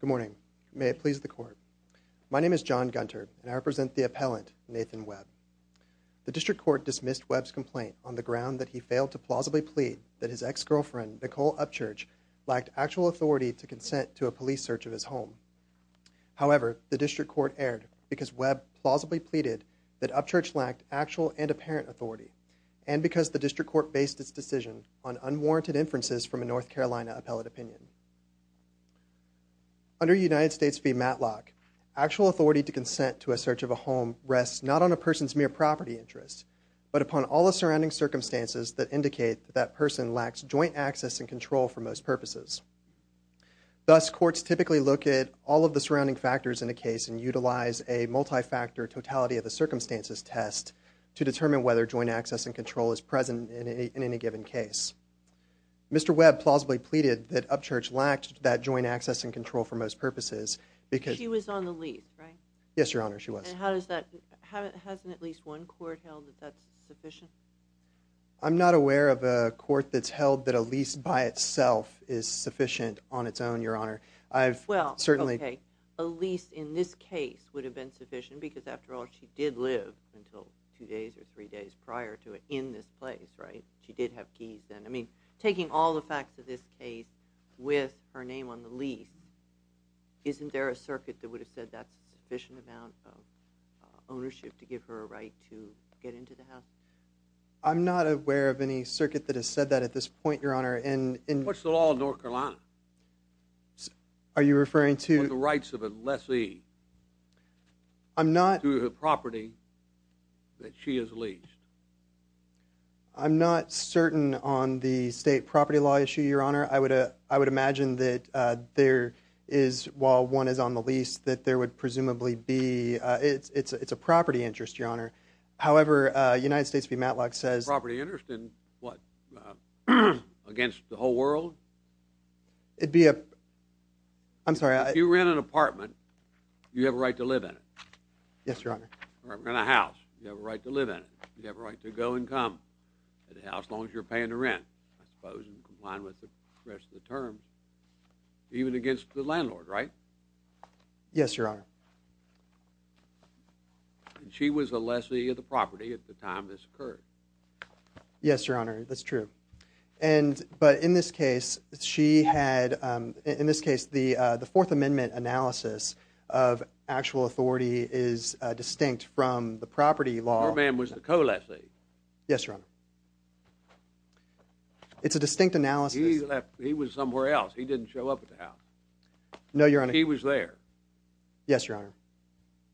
Good morning. May it please the Court. My name is John Gunter and I represent the appellant, Nathan Webb. The District Court dismissed Webb's complaint on the ground that he failed to plausibly plead that his ex-girlfriend, Nicole Upchurch, lacked actual authority to consent to a police search of his home. However, the District Court erred because Webb plausibly pleaded that Upchurch lacked actual and apparent authority and because the District Court based its decision on unwarranted inferences from a North Carolina appellate opinion. Under United States v. Matlock, actual authority to consent to a search of a home rests not on a person's mere property interest, but upon all the surrounding circumstances that indicate that that person lacks joint access and control for most purposes. Thus, courts typically look at all of the surrounding factors in a case and utilize a multi-factor totality of the circumstances test to determine whether joint access and control is present in any given case. Mr. Webb plausibly pleaded that Upchurch lacked that joint access and control for most purposes because- She was on the lease, right? Yes, Your Honor, she was. And how does that- hasn't at least one court held that that's sufficient? I'm not aware of a court that's held that a lease by itself is sufficient on its own, Your Honor. I've certainly- She did live until two days or three days prior to it in this place, right? She did have keys then. I mean, taking all the facts of this case with her name on the lease, isn't there a circuit that would have said that's a sufficient amount of ownership to give her a right to get into the house? I'm not aware of any circuit that has said that at this point, Your Honor, and- What's the law in North Carolina? Are you referring to- What are the rights of a lessee? I'm not- To the property that she has leased? I'm not certain on the state property law issue, Your Honor. I would imagine that there is- while one is on the lease, that there would presumably be- it's a property interest, Your Honor. However, United States v. Matlock says- Property interest in what? Against the whole world? It'd be a- I'm sorry, I- If you rent an apartment, you have a right to live in it. Yes, Your Honor. Rent a house, you have a right to live in it. You have a right to go and come to the house as long as you're paying the rent, I suppose, in compliance with the rest of the terms, even against the landlord, right? Yes, Your Honor. She was a lessee of the property at the time this occurred. Yes, Your Honor, that's true. And- but in this case, she had- in this case, the Fourth Amendment analysis of actual authority is distinct from the property law- Her man was the co-lessee. Yes, Your Honor. It's a distinct analysis- He left- he was somewhere else. He didn't show up at the house. No, Your Honor. He was there. Yes, Your Honor.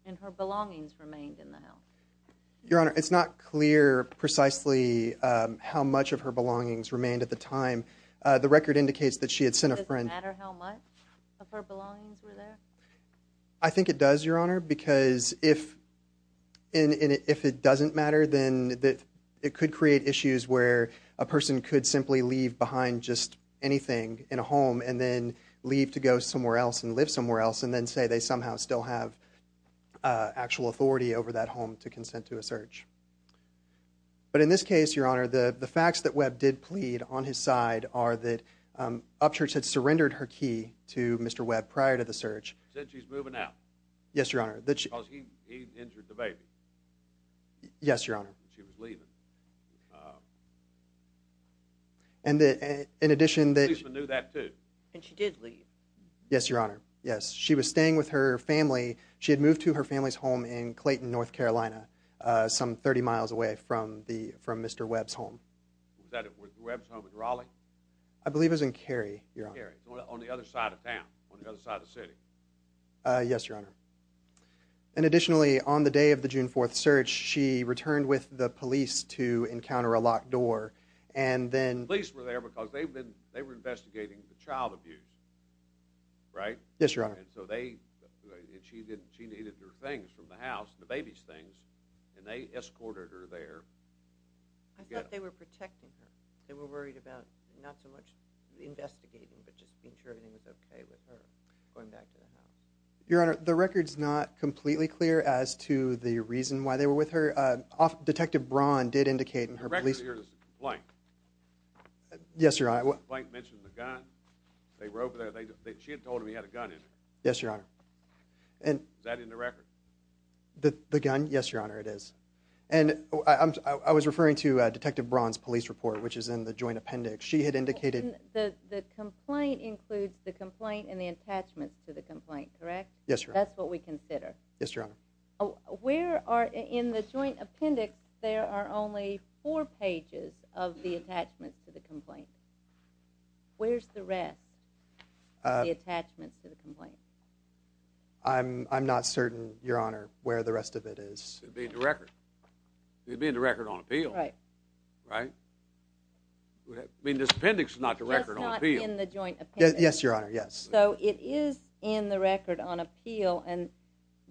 And her belongings remained in the house. Your Honor, it's not clear, precisely, what precisely how much of her belongings remained at the time. The record indicates that she had sent a friend- It doesn't matter how much of her belongings were there? I think it does, Your Honor, because if- and if it doesn't matter, then it could create issues where a person could simply leave behind just anything in a home and then leave to go somewhere else and live somewhere else and then say they somehow still have actual authority over that home to consent to a search. But in this case, Your Honor, the facts that Webb did plead on his side are that Upchurch had surrendered her key to Mr. Webb prior to the search. Said she's moving out. Yes, Your Honor. Because he injured the baby. Yes, Your Honor. She was leaving. And in addition that- The policeman knew that, too. And she did leave. Yes, Your Honor. Yes. She was staying with her family. She had moved to her family's home in Clayton, North Carolina, some 30 miles away from the- from Mr. Webb's home. Was that at Mr. Webb's home in Raleigh? I believe it was in Cary, Your Honor. In Cary, on the other side of town, on the other side of the city. Yes, Your Honor. And additionally, on the day of the June 4th search, she returned with the police to encounter a locked door and then- The police were there because they've been- And so they- And she needed her things from the house, the baby's things. And they escorted her there. I thought they were protecting her. They were worried about not so much investigating, but just being sure everything was okay with her going back to the house. Your Honor, the record's not completely clear as to the reason why they were with her. Detective Braun did indicate in her police- The record here is blank. Yes, Your Honor. The complaint mentioned the gun. They were over there. She had told him he had a gun in there. Yes, Your Honor. And- Is that in the record? The gun? Yes, Your Honor, it is. And I was referring to Detective Braun's police report, which is in the joint appendix. She had indicated- The complaint includes the complaint and the attachments to the complaint, correct? Yes, Your Honor. That's what we consider. Yes, Your Honor. Where are- In the joint appendix, there are only four pages of the attachments to the complaint. Where's the rest of the attachments to the complaint? I'm not certain, Your Honor, where the rest of it is. It'd be in the record. It'd be in the record on appeal. Right. Right? I mean, this appendix is not the record on appeal. It's not in the joint appendix. Yes, Your Honor, yes. So it is in the record on appeal, and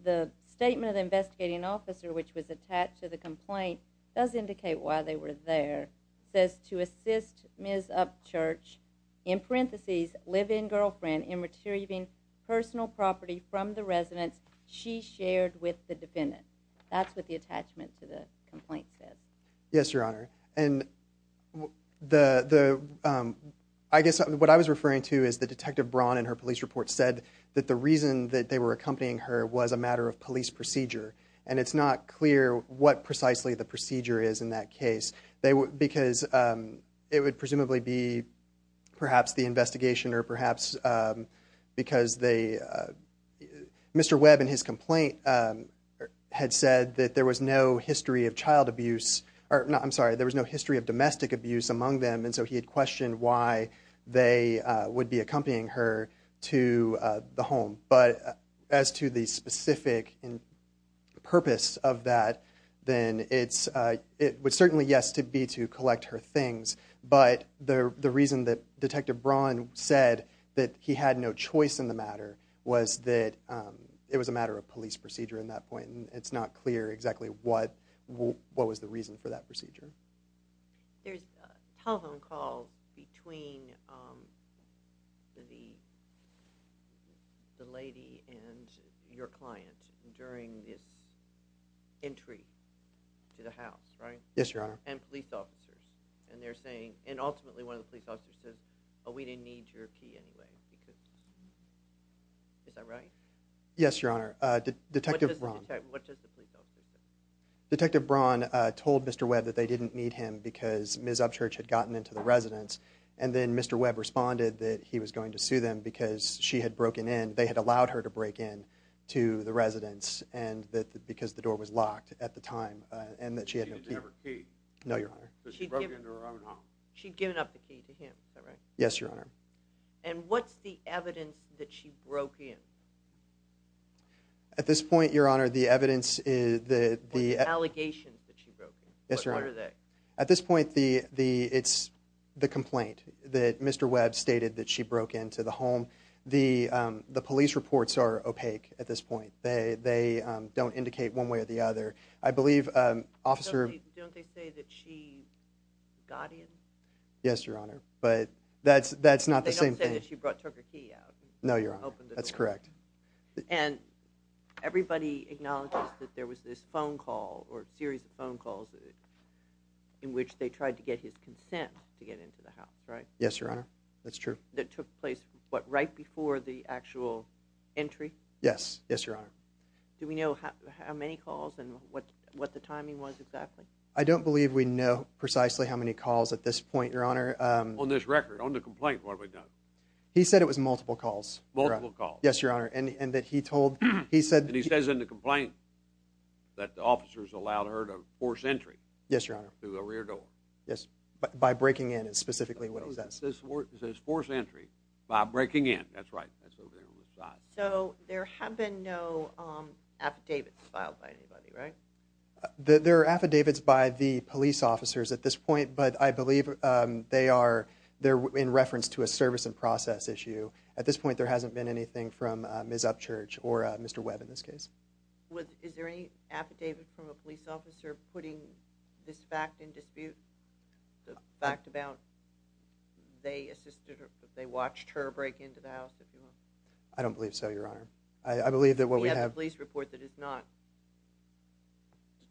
the statement of the investigating officer, which was attached to the complaint, does indicate why they were there. It says, to assist Ms. Upchurch, in parentheses, live-in girlfriend, in retrieving personal property from the residence she shared with the defendant. That's what the attachment to the complaint says. Yes, Your Honor. And I guess what I was referring to is that Detective Braun in her police report said that the reason that they were accompanying her was a matter of police procedure, and it's not clear what precisely the procedure is in that case, because it would presumably be perhaps the investigation or perhaps because they – Mr. Webb in his complaint had said that there was no history of child abuse – I'm sorry, there was no history of domestic abuse among them, and so he had questioned why they would be accompanying her to the home. But as to the specific purpose of that, then it would certainly, yes, be to collect her things, but the reason that Detective Braun said that he had no choice in the matter was that it was a matter of police procedure in that point, and it's not clear exactly what was the reason for that procedure. There's a telephone call between the lady and your client during this entry to the house, right? Yes, Your Honor. And police officers, and they're saying – and ultimately one of the police officers says, oh, we didn't need your key anyway, because – is that right? Yes, Your Honor. Detective Braun – What does the police officer say? Detective Braun told Mr. Webb that they didn't need him because Ms. Upchurch had gotten into the residence, and then Mr. Webb responded that he was going to sue them because she had broken in. They had allowed her to break in to the residence, and that – because the door was locked at the time, and that she had no key. She didn't have her key. No, Your Honor. Because she broke into her own home. She'd given up the key to him, is that right? Yes, Your Honor. And what's the evidence that she broke in? At this point, Your Honor, the evidence is – The allegations that she broke in. Yes, Your Honor. What are they? At this point, the – it's the complaint that Mr. Webb stated that she broke into the home. The police reports are opaque at this point. They don't indicate one way or the other. I believe Officer – Don't they say that she got in? Yes, Your Honor, but that's not the same thing. They don't say that she took her key out and opened the door. No, Your Honor. That's correct. And everybody acknowledges that there was this phone call or series of phone calls in which they tried to get his consent to get into the house, right? Yes, Your Honor. That's true. That took place, what, right before the actual entry? Yes. Yes, Your Honor. Do we know how many calls and what the timing was exactly? I don't believe we know precisely how many calls at this point, Your Honor. On this record, on the complaint, what have we done? He said it was multiple calls, Your Honor. Multiple calls. Yes, Your Honor, and that he told – he said – And he says in the complaint that the officers allowed her to force entry to the rear door. Yes, by breaking in is specifically what he says. It says force entry by breaking in. That's right. That's over here on the side. So there have been no affidavits filed by anybody, right? There are affidavits by the police officers at this point, but I believe they are in reference to a service and process issue. At this point, there hasn't been anything from Ms. Upchurch or Mr. Webb in this case. Is there any affidavit from a police officer putting this fact in dispute, the fact about they assisted her, they watched her break into the house? I don't believe so, Your Honor. We have a police report that is not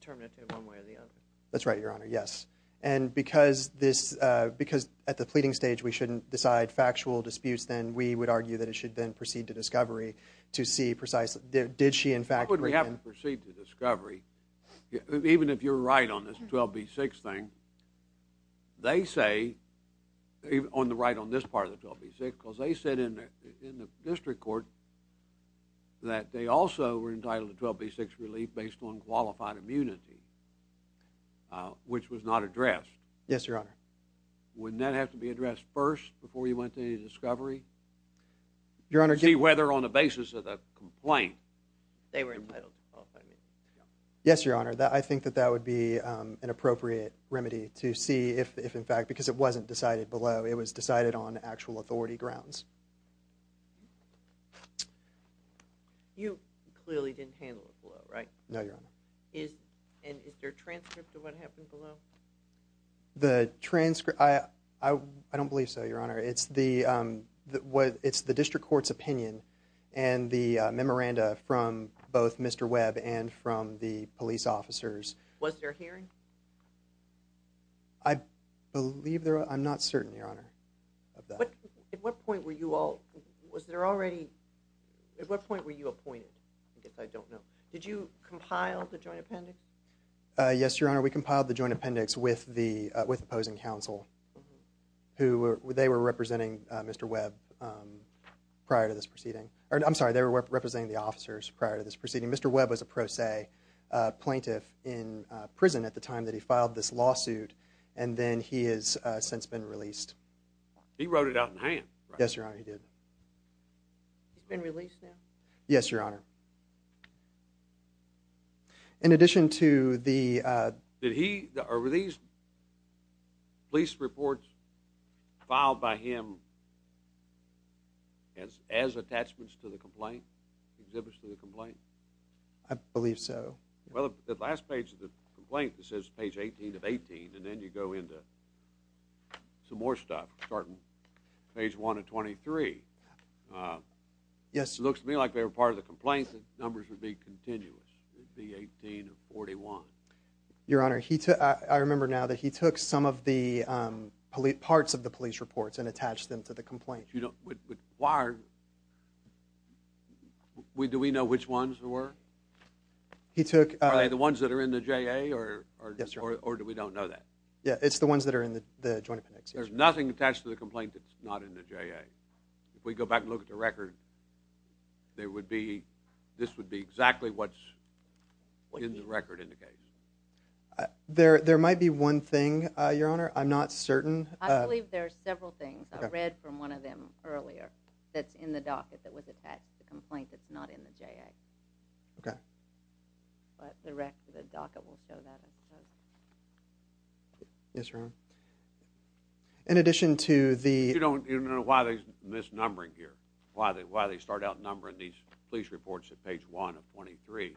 determinative one way or the other. That's right, Your Honor, yes. And because at the pleading stage we shouldn't decide factual disputes, then we would argue that it should then proceed to discovery to see precisely, did she in fact break in? Why would we have to proceed to discovery, even if you're right on this 12B6 thing? They say, on the right on this part of the 12B6, because they said in the district court that they also were entitled to 12B6 relief based on qualified immunity, which was not addressed. Yes, Your Honor. Wouldn't that have to be addressed first before you went to any discovery? Your Honor, To see whether on the basis of the complaint they were entitled to qualified immunity. Yes, Your Honor, I think that that would be an appropriate remedy to see if in fact, because it wasn't decided below, it was decided on actual authority grounds. You clearly didn't handle it below, right? No, Your Honor. Is there a transcript of what happened below? The transcript, I don't believe so, Your Honor. It's the district court's opinion and the memoranda from both Mr. Webb and from the police officers. Was there a hearing? I believe there, I'm not certain, Your Honor, of that. At what point were you all, was there already, at what point were you appointed? I guess I don't know. Did you compile the joint appendix? Yes, Your Honor, we compiled the joint appendix with the opposing counsel. They were representing Mr. Webb prior to this proceeding. I'm sorry, they were representing the officers prior to this proceeding. Mr. Webb was a pro se plaintiff in prison at the time that he filed this lawsuit and then he has since been released. He wrote it out in hand, right? Yes, Your Honor, he did. He's been released now? Yes, Your Honor. In addition to the... Did he, were these police reports filed by him as attachments to the complaint? Exhibits to the complaint? I believe so. Well, the last page of the complaint, it says page 18 of 18 and then you go into some more stuff, starting page 1 of 23. Yes. It looks to me like they were part of the complaint, the numbers would be continuous. It would be 18 of 41. Your Honor, I remember now that he took some of the parts of the police reports and attached them to the complaint. Why are... Do we know which ones they were? He took... Are they the ones that are in the JA or... Yes, Your Honor. Or do we don't know that? Yeah, it's the ones that are in the joint appendix. There's nothing attached to the complaint that's not in the JA. If we go back and look at the record, there would be, this would be exactly what's in the record in the case. There might be one thing, Your Honor, I'm not certain. I believe there are several things. I read from one of them earlier that's in the docket that was attached to the complaint that's not in the JA. Okay. But the rest of the docket will show that, I suppose. Yes, Your Honor. In addition to the... But you don't know why there's misnumbering here. Why they start out numbering these police reports at page 1 of 23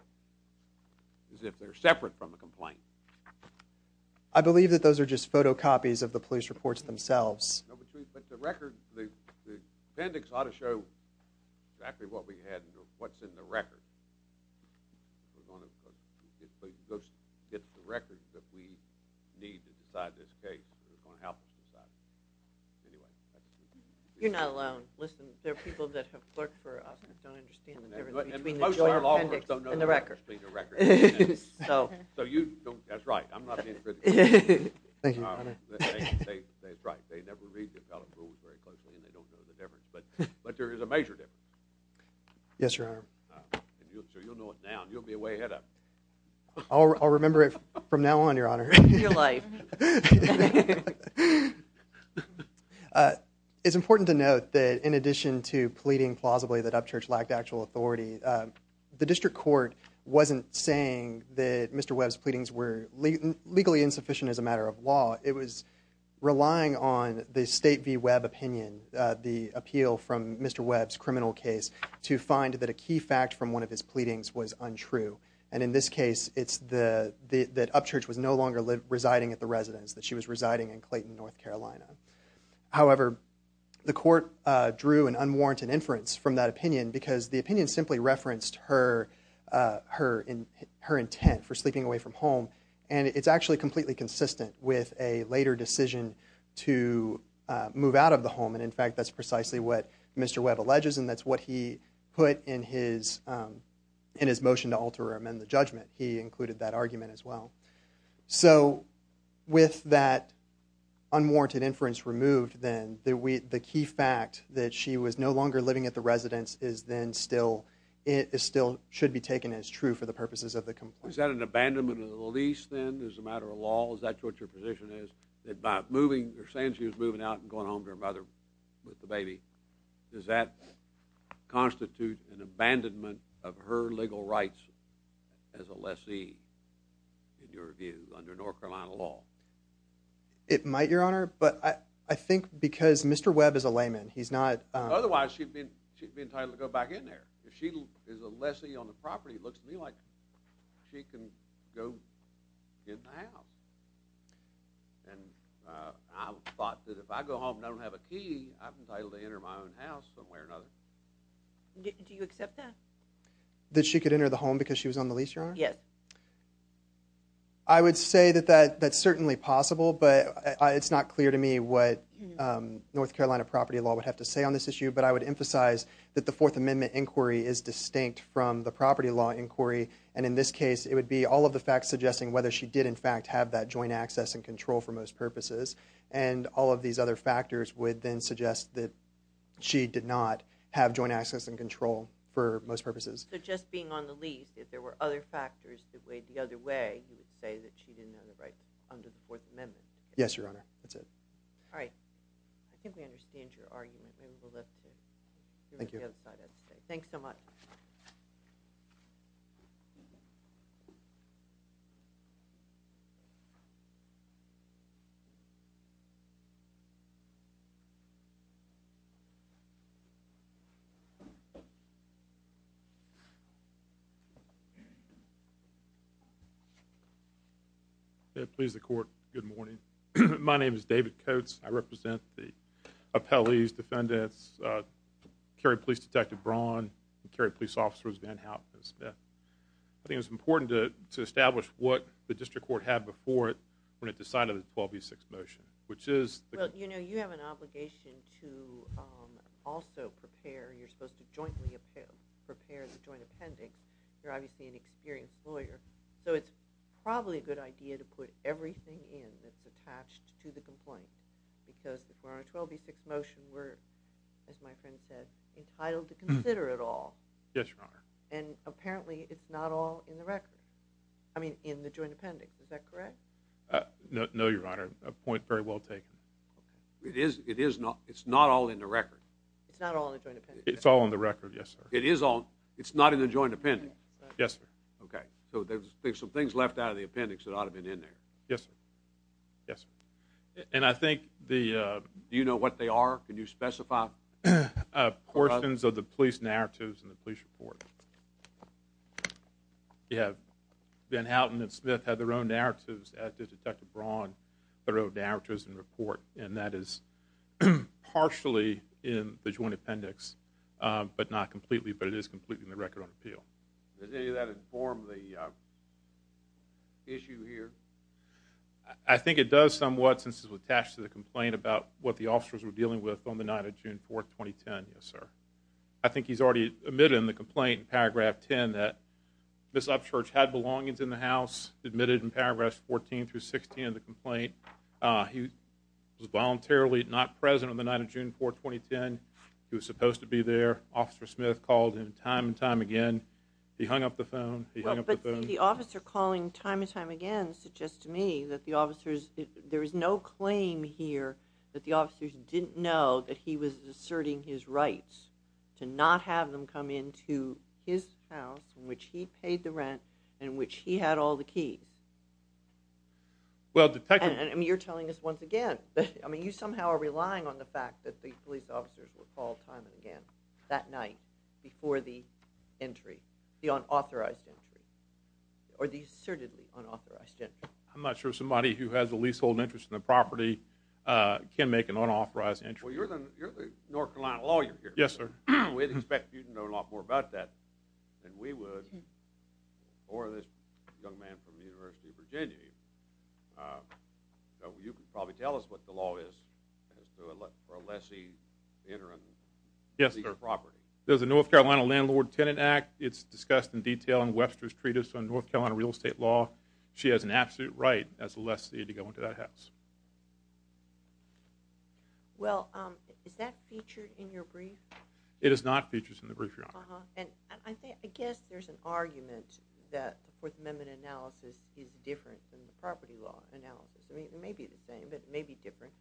is if they're separate from the complaint. I believe that those are just photocopies of the police reports themselves. No, but the record, the appendix ought to show exactly what we had and what's in the record. We're going to... It's the records that we need to decide this case. It's going to help us decide. Anyway. You're not alone. Listen, there are people that have worked for us that don't understand the difference between the joint appendix and the record. So you don't... That's right. I'm not being critical. Thank you, Your Honor. That's right. They never read the appellate rules very closely and they don't know the difference. But there is a major difference. Yes, Your Honor. You'll know it now. You'll be way ahead of... I'll remember it from now on, Your Honor. Your life. It's important to note that in addition to pleading plausibly that Upchurch lacked actual authority, the district court wasn't saying that Mr. Webb's pleadings were legally insufficient as a matter of law. It was relying on the State v. Webb opinion, the appeal from Mr. Webb's criminal case, to find that a key fact from one of his pleadings was untrue. And in this case, it's that Upchurch was no longer residing at the residence, that she was residing in Clayton, North Carolina. However, the court drew an unwarranted inference from that opinion because the opinion simply referenced her intent for sleeping away from home. And it's actually completely consistent with a later decision to move out of the home. And in fact, that's precisely what Mr. Webb alleges and that's what he put in his motion to alter or amend the judgment. He included that argument as well. So with that unwarranted inference removed then, the key fact that she was no longer living at the residence still should be taken as true for the purposes of the complaint. Is that an abandonment of the lease then as a matter of law? Is that what your position is? By saying she was moving out and going home to her mother with the baby, does that constitute an abandonment of her legal rights as a lessee? In your view, under North Carolina law? It might, Your Honor. But I think because Mr. Webb is a layman, he's not... Otherwise, she'd be entitled to go back in there. If she is a lessee on the property, it looks to me like she can go in the house. And I thought that if I go home and I don't have a key, I'm entitled to enter my own house somewhere or another. Do you accept that? That she could enter the home because she was on the lease, Your Honor? Yes. I would say that that's certainly possible, but it's not clear to me what North Carolina property law would have to say on this issue. But I would emphasize that the Fourth Amendment inquiry is distinct from the property law inquiry. And in this case, it would be all of the facts suggesting whether she did in fact have that joint access and control for most purposes. And all of these other factors would then suggest that she did not have joint access and control for most purposes. So just being on the lease, if there were other factors that weighed the other way, you would say that she didn't have the rights under the Fourth Amendment? Yes, Your Honor. That's it. All right. I think we understand your argument. Maybe we'll let the... Thank you. Thanks so much. David Coates. May it please the Court, good morning. My name is David Coates. I represent the appellees, defendants, Kerry Police Detective Braun, and Kerry Police Officers Van Hout and Smith. I think it's important to establish what the District Court had before it when it decided the 12B6 motion, which is... So, you know, you have an obligation to also prepare, you're supposed to jointly prepare the joint appendix. You're obviously an experienced lawyer, so it's probably a good idea to put everything in that's attached to the complaint because the 412B6 motion, we're, as my friend said, entitled to consider it all. Yes, Your Honor. And apparently it's not all in the record, I mean, in the joint appendix, is that correct? No, Your Honor, a point very well taken. It's not all in the record? It's not all in the joint appendix. It's all in the record, yes, sir. It's not in the joint appendix? Yes, sir. Okay. So there's some things left out of the appendix that ought to have been in there. Yes, sir. And I think the... Do you know what they are? Can you specify? Portions of the police narratives in the police report. Yes. Ben Houghton and Smith had their own narratives, as did Detective Braun, their own narratives in the report, and that is partially in the joint appendix, but not completely, but it is completely in the record on appeal. Does any of that inform the issue here? I think it does somewhat since it's attached to the complaint about what the officers were dealing with on the night of June 4, 2010, yes, sir. I think he's already admitted in the complaint in Paragraph 10 that Ms. Upchurch had belongings in the house, admitted in Paragraphs 14 through 16 of the complaint. He was voluntarily not present on the night of June 4, 2010. He was supposed to be there. Officer Smith called him time and time again. He hung up the phone. He hung up the phone. Well, but the officer calling time and time again suggests to me that the officers, there is no claim here that the officers didn't know that he was asserting his rights to not have them come into his house in which he paid the rent and in which he had all the keys. And you're telling us once again. I mean you somehow are relying on the fact that the police officers were called time and again that night before the entry, the unauthorized entry, or the assertedly unauthorized entry. I'm not sure somebody who has a leasehold interest in the property can make an unauthorized entry. Well, you're the North Carolina lawyer here. Yes, sir. We'd expect you to know a lot more about that than we would or this young man from the University of Virginia. You can probably tell us what the law is for a lessee entering the property. Yes, sir. There's a North Carolina Landlord Tenant Act. It's discussed in detail in Webster's Treatise on North Carolina Real Estate Law. She has an absolute right as a lessee to go into that house. Well, is that featured in your brief? It is not featured in the brief, Your Honor. And I guess there's an argument that the Fourth Amendment analysis is different than the property law analysis. It may be the same, but it may be different.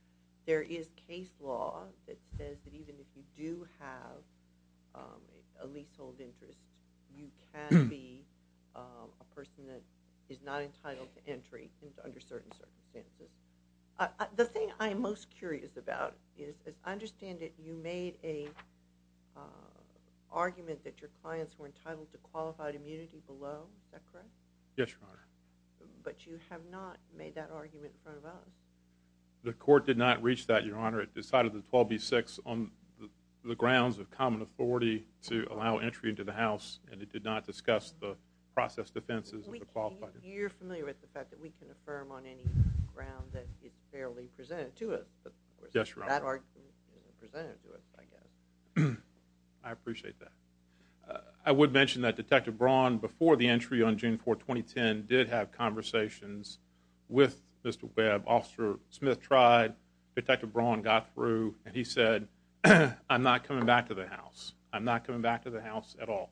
There is case law that says that even if you do have a leasehold interest, you can be a person that is not entitled to entry under certain circumstances. The thing I'm most curious about is I understand that you made an argument that your clients were entitled to qualified immunity below. Is that correct? Yes, Your Honor. But you have not made that argument in front of us. The court did not reach that, Your Honor. on the grounds of common authority to allow entry into the house, and it did not discuss the process defenses of the qualifier. You're familiar with the fact that we can affirm on any ground that it's fairly presented to us. Yes, Your Honor. That argument is fairly presented to us, I guess. I appreciate that. I would mention that Detective Braun, before the entry on June 4, 2010, did have conversations with Mr. Webb. Officer Smith tried. Detective Braun got through, and he said, I'm not coming back to the house. I'm not coming back to the house at all.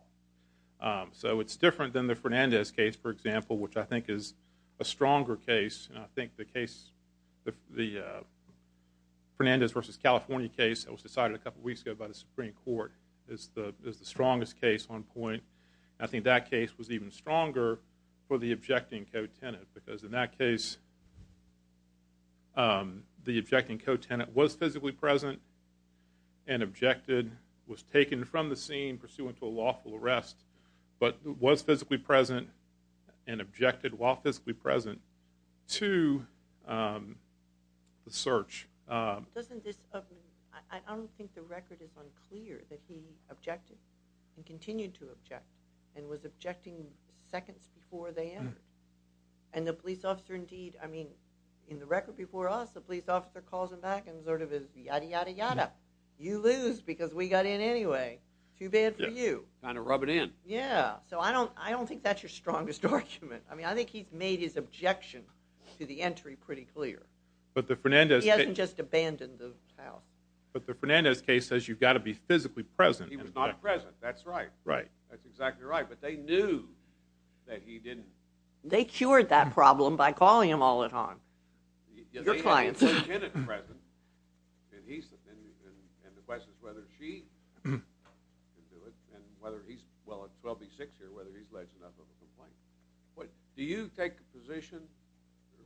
So it's different than the Fernandez case, for example, which I think is a stronger case. I think the Fernandez v. California case that was decided a couple weeks ago by the Supreme Court is the strongest case on point. I think that case was even stronger for the objecting co-tenant because in that case the objecting co-tenant was physically present and objected, was taken from the scene pursuant to a lawful arrest, but was physically present and objected while physically present to the search. I don't think the record is unclear that he objected and continued to object and was objecting seconds before they entered. And the police officer, indeed, I mean, in the record before us, the police officer calls him back and sort of is yada, yada, yada. You lose because we got in anyway. Too bad for you. Kind of rubbing in. Yeah. So I don't think that's your strongest argument. I mean, I think he's made his objection to the entry pretty clear. He hasn't just abandoned the house. But the Fernandez case says you've got to be physically present. He was not present. That's right. Right. That's exactly right. But they knew that he didn't. They cured that problem by calling him all the time. Your clients. They had the co-tenant present and the question is whether she can do it and whether he's, well, it's 12B6 here, whether he's led to another complaint. Do you take the position,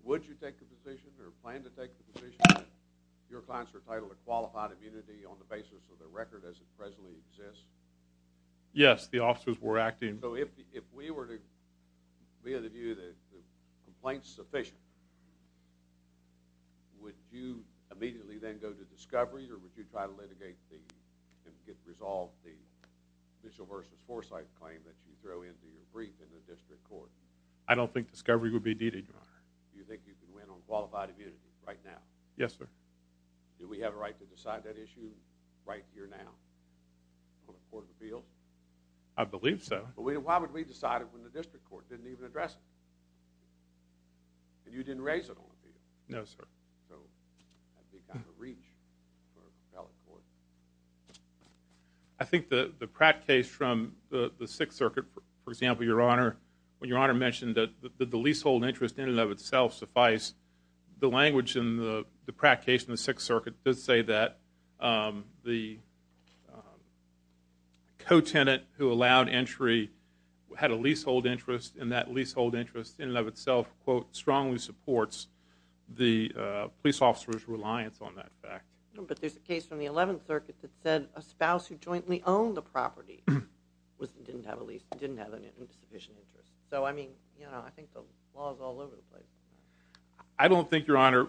would you take the position or plan to take the position that your clients are entitled to qualified immunity on the basis of their record as it presently exists? Yes. The officers were acting. So if we were to be of the view that the complaint's sufficient, would you immediately then go to discovery or would you try to litigate and resolve the official versus foresight claim that you throw into your brief in the district court? I don't think discovery would be needed, Your Honor. Do you think you can win on qualified immunity right now? Yes, sir. Do we have a right to decide that issue right here now on the Court of Appeals? I believe so. Well, why would we decide it when the district court didn't even address it? And you didn't raise it on appeal. No, sir. So that'd be kind of a reach for the appellate court. I think the Pratt case from the Sixth Circuit, for example, Your Honor, when Your Honor mentioned that the leasehold interest in and of itself suffice, the language in the Pratt case in the Sixth Circuit does say that the co-tenant who allowed entry had a leasehold interest, and that leasehold interest in and of itself, quote, strongly supports the police officer's reliance on that fact. But there's a case from the Eleventh Circuit that said a spouse who jointly owned the property didn't have a lease, didn't have sufficient interest. So, I mean, you know, I think the law is all over the place. I don't think, Your Honor,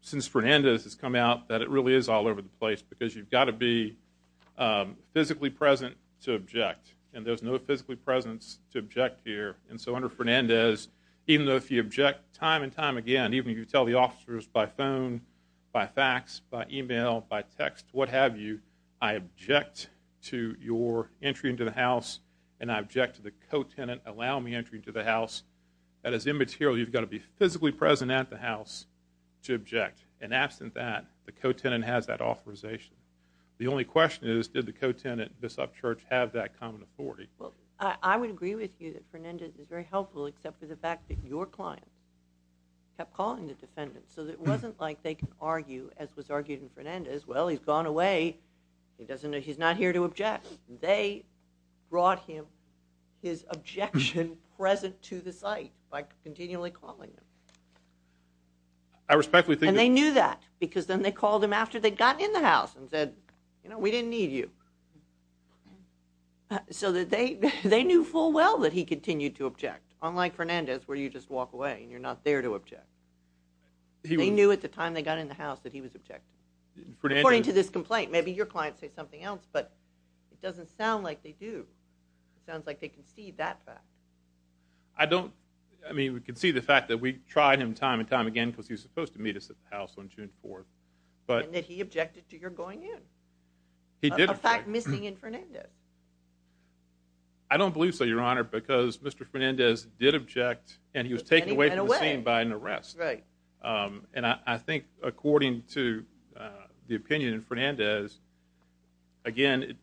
since Fernandez has come out, that it really is all over the place because you've got to be physically present to object, and there's no physically presence to object here. And so, under Fernandez, even though if you object time and time again, even if you tell the officers by phone, by fax, by e-mail, by text, what have you, I object to your entry into the house, and I object to the co-tenant allowing me entry into the house, that is immaterial. You've got to be physically present at the house to object. And absent that, the co-tenant has that authorization. The only question is, did the co-tenant, Bishop Church, have that common authority? Well, I would agree with you that Fernandez is very helpful, except for the fact that your client kept calling the defendant so that it wasn't like they could argue, as was argued in Fernandez, well, he's gone away, he's not here to object. They brought him his objection present to the site by continually calling him. And they knew that because then they called him after they'd gotten in the house and said, you know, we didn't need you. So they knew full well that he continued to object, unlike Fernandez where you just walk away and you're not there to object. They knew at the time they got in the house that he was objecting. According to this complaint, maybe your client says something else, but it doesn't sound like they do. It sounds like they can see that fact. I don't. I mean, we can see the fact that we tried him time and time again because he was supposed to meet us at the house on June 4th. And that he objected to your going in. He did object. A fact missing in Fernandez. I don't believe so, Your Honor, because Mr. Fernandez did object and he was taken away from the scene by an arrest. And I think according to the opinion of Fernandez, again,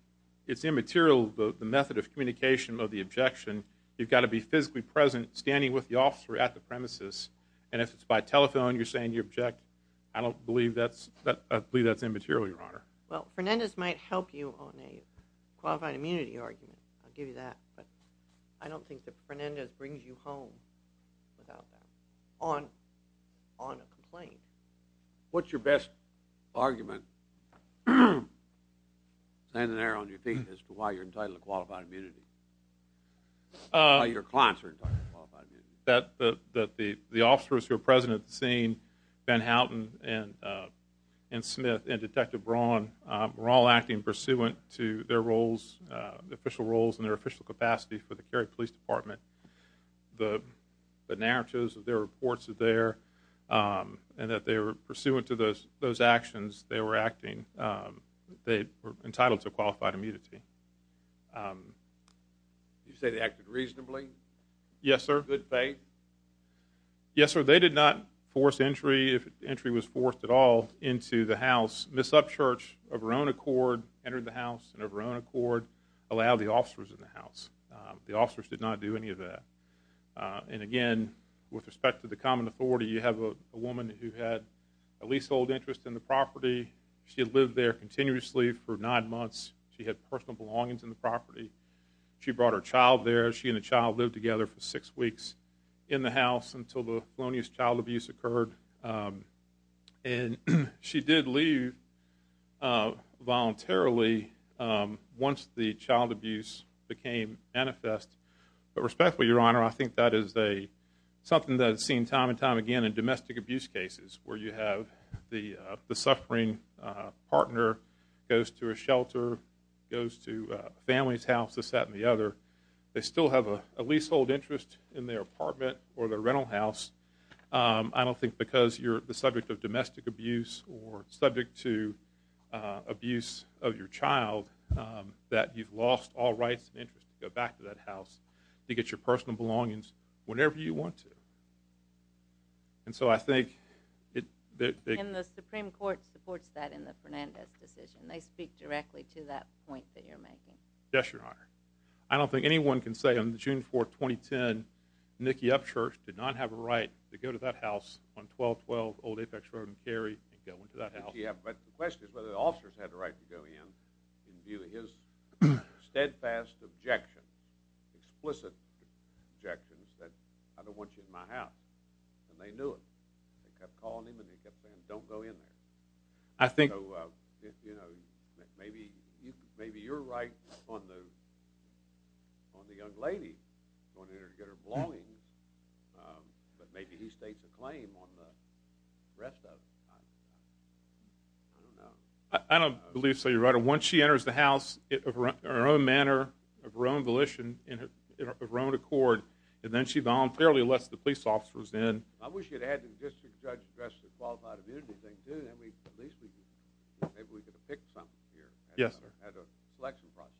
it's immaterial, the method of communication of the objection. You've got to be physically present, standing with the officer at the premises. And if it's by telephone, you're saying you object, I don't believe that's immaterial, Your Honor. Well, Fernandez might help you on a qualified immunity argument. I'll give you that. But I don't think that Fernandez brings you home without that on a complaint. What's your best argument, standing there on your feet, as to why you're entitled to qualified immunity? Why your clients are entitled to qualified immunity? That the officers who are present at the scene, Ben Houghton and Smith and Detective Braun, were all acting pursuant to their roles, their official roles and their official capacity for the Cary Police Department. The narratives of their reports are there, and that they were pursuant to those actions, they were acting, they were entitled to qualified immunity. You say they acted reasonably? Yes, sir. Good faith? Yes, sir. They did not force entry, if entry was forced at all, into the house. Ms. Upchurch, of her own accord, entered the house, and of her own accord, allowed the officers in the house. The officers did not do any of that. And again, with respect to the common authority, you have a woman who had a leasehold interest in the property. She had lived there continuously for nine months. She had personal belongings in the property. She brought her child there. She and the child lived together for six weeks in the house until the felonious child abuse occurred. And she did leave voluntarily once the child abuse became manifest. But respectfully, Your Honor, I think that is something that is seen time and time again in domestic abuse cases, where you have the suffering partner goes to a shelter, goes to a family's house, this, that, and the other. They still have a leasehold interest in their apartment or their rental house. I don't think because you're the subject of domestic abuse or subject to abuse of your child, that you've lost all rights and interest to go back to that house to get your personal belongings whenever you want to. And so I think that... And the Supreme Court supports that in the Fernandez decision. They speak directly to that point that you're making. Yes, Your Honor. I don't think anyone can say on June 4, 2010, Nikki Upshurst did not have a right to go to that house on 1212 Old Apex Road in Cary and go into that house. But the question is whether the officers had the right to go in in view of his steadfast objection, explicit objections that, I don't want you in my house. And they knew it. They kept calling him and they kept saying, Don't go in there. I think... You know, maybe you're right on the young lady going in there to get her belongings. But maybe he states a claim on the rest of it. I don't know. I don't believe so, Your Honor. Once she enters the house in her own manner, of her own volition, in her own accord, and then she voluntarily lets the police officers in... I wish you'd had the district judge address the qualified immunity thing, too. Then at least maybe we could depict something here as a selection process.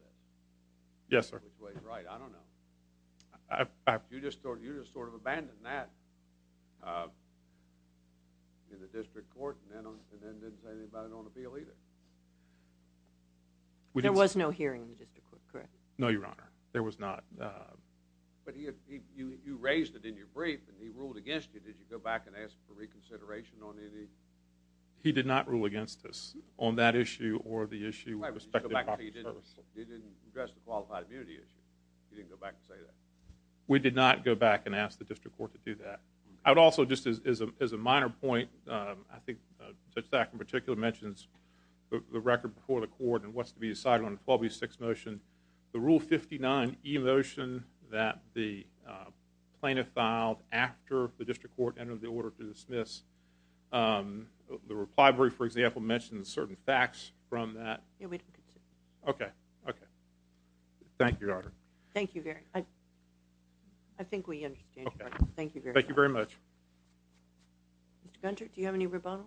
Yes, sir. I don't know which way is right. I don't know. You just sort of abandoned that in the district court and then didn't say anything about it on appeal either. There was no hearing in the district court, correct? No, Your Honor. There was not. But you raised it in your brief and he ruled against you. Did you go back and ask for reconsideration on any? He did not rule against us on that issue or the issue with respect to property services. He didn't address the qualified immunity issue. He didn't go back and say that. We did not go back and ask the district court to do that. I would also, just as a minor point, I think Judge Thack, in particular, mentions the record before the court and what's to be decided on the 12B6 motion. The Rule 59e motion that the plaintiff filed after the district court entered the order to dismiss, the reply brief, for example, mentions certain facts from that. Okay, okay. Thank you, Your Honor. Thank you very much. I think we understand, Your Honor. Thank you very much. Mr. Gunter, do you have any rebuttal?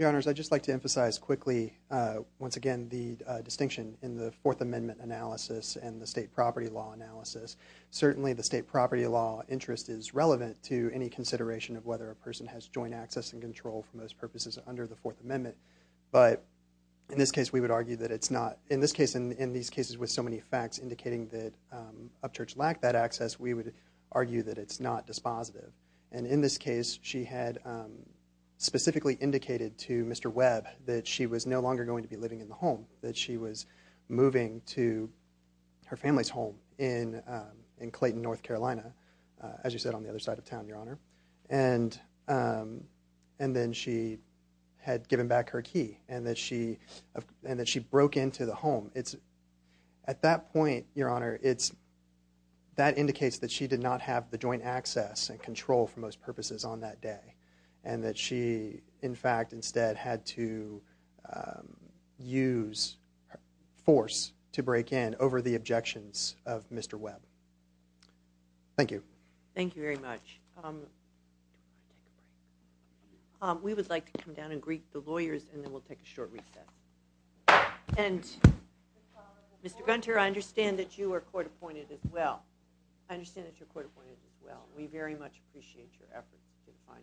Your Honors, I'd just like to emphasize quickly, once again, the distinction in the Fourth Amendment analysis and the state property law analysis. Certainly, the state property law interest is relevant to any consideration of whether a person has joint access and control, for most purposes, under the Fourth Amendment. But in this case, we would argue that it's not. In this case, and in these cases with so many facts indicating that Upchurch lacked that access, we would argue that it's not dispositive. And in this case, she had specifically indicated to Mr. Webb that she was no longer going to be living in the home, that she was moving to her family's home in Clayton, North Carolina, as you said, on the other side of town, Your Honor. And then she had given back her key and that she broke into the home. At that point, Your Honor, that indicates that she did not have the joint access and control, for most purposes, on that day and that she, in fact, instead had to use force to break in over the objections of Mr. Webb. Thank you. Thank you very much. We would like to come down and greet the lawyers and then we'll take a short recess. Mr. Gunter, I understand that you are court-appointed as well. I understand that you're court-appointed as well. We very much appreciate your efforts. You did a fine job.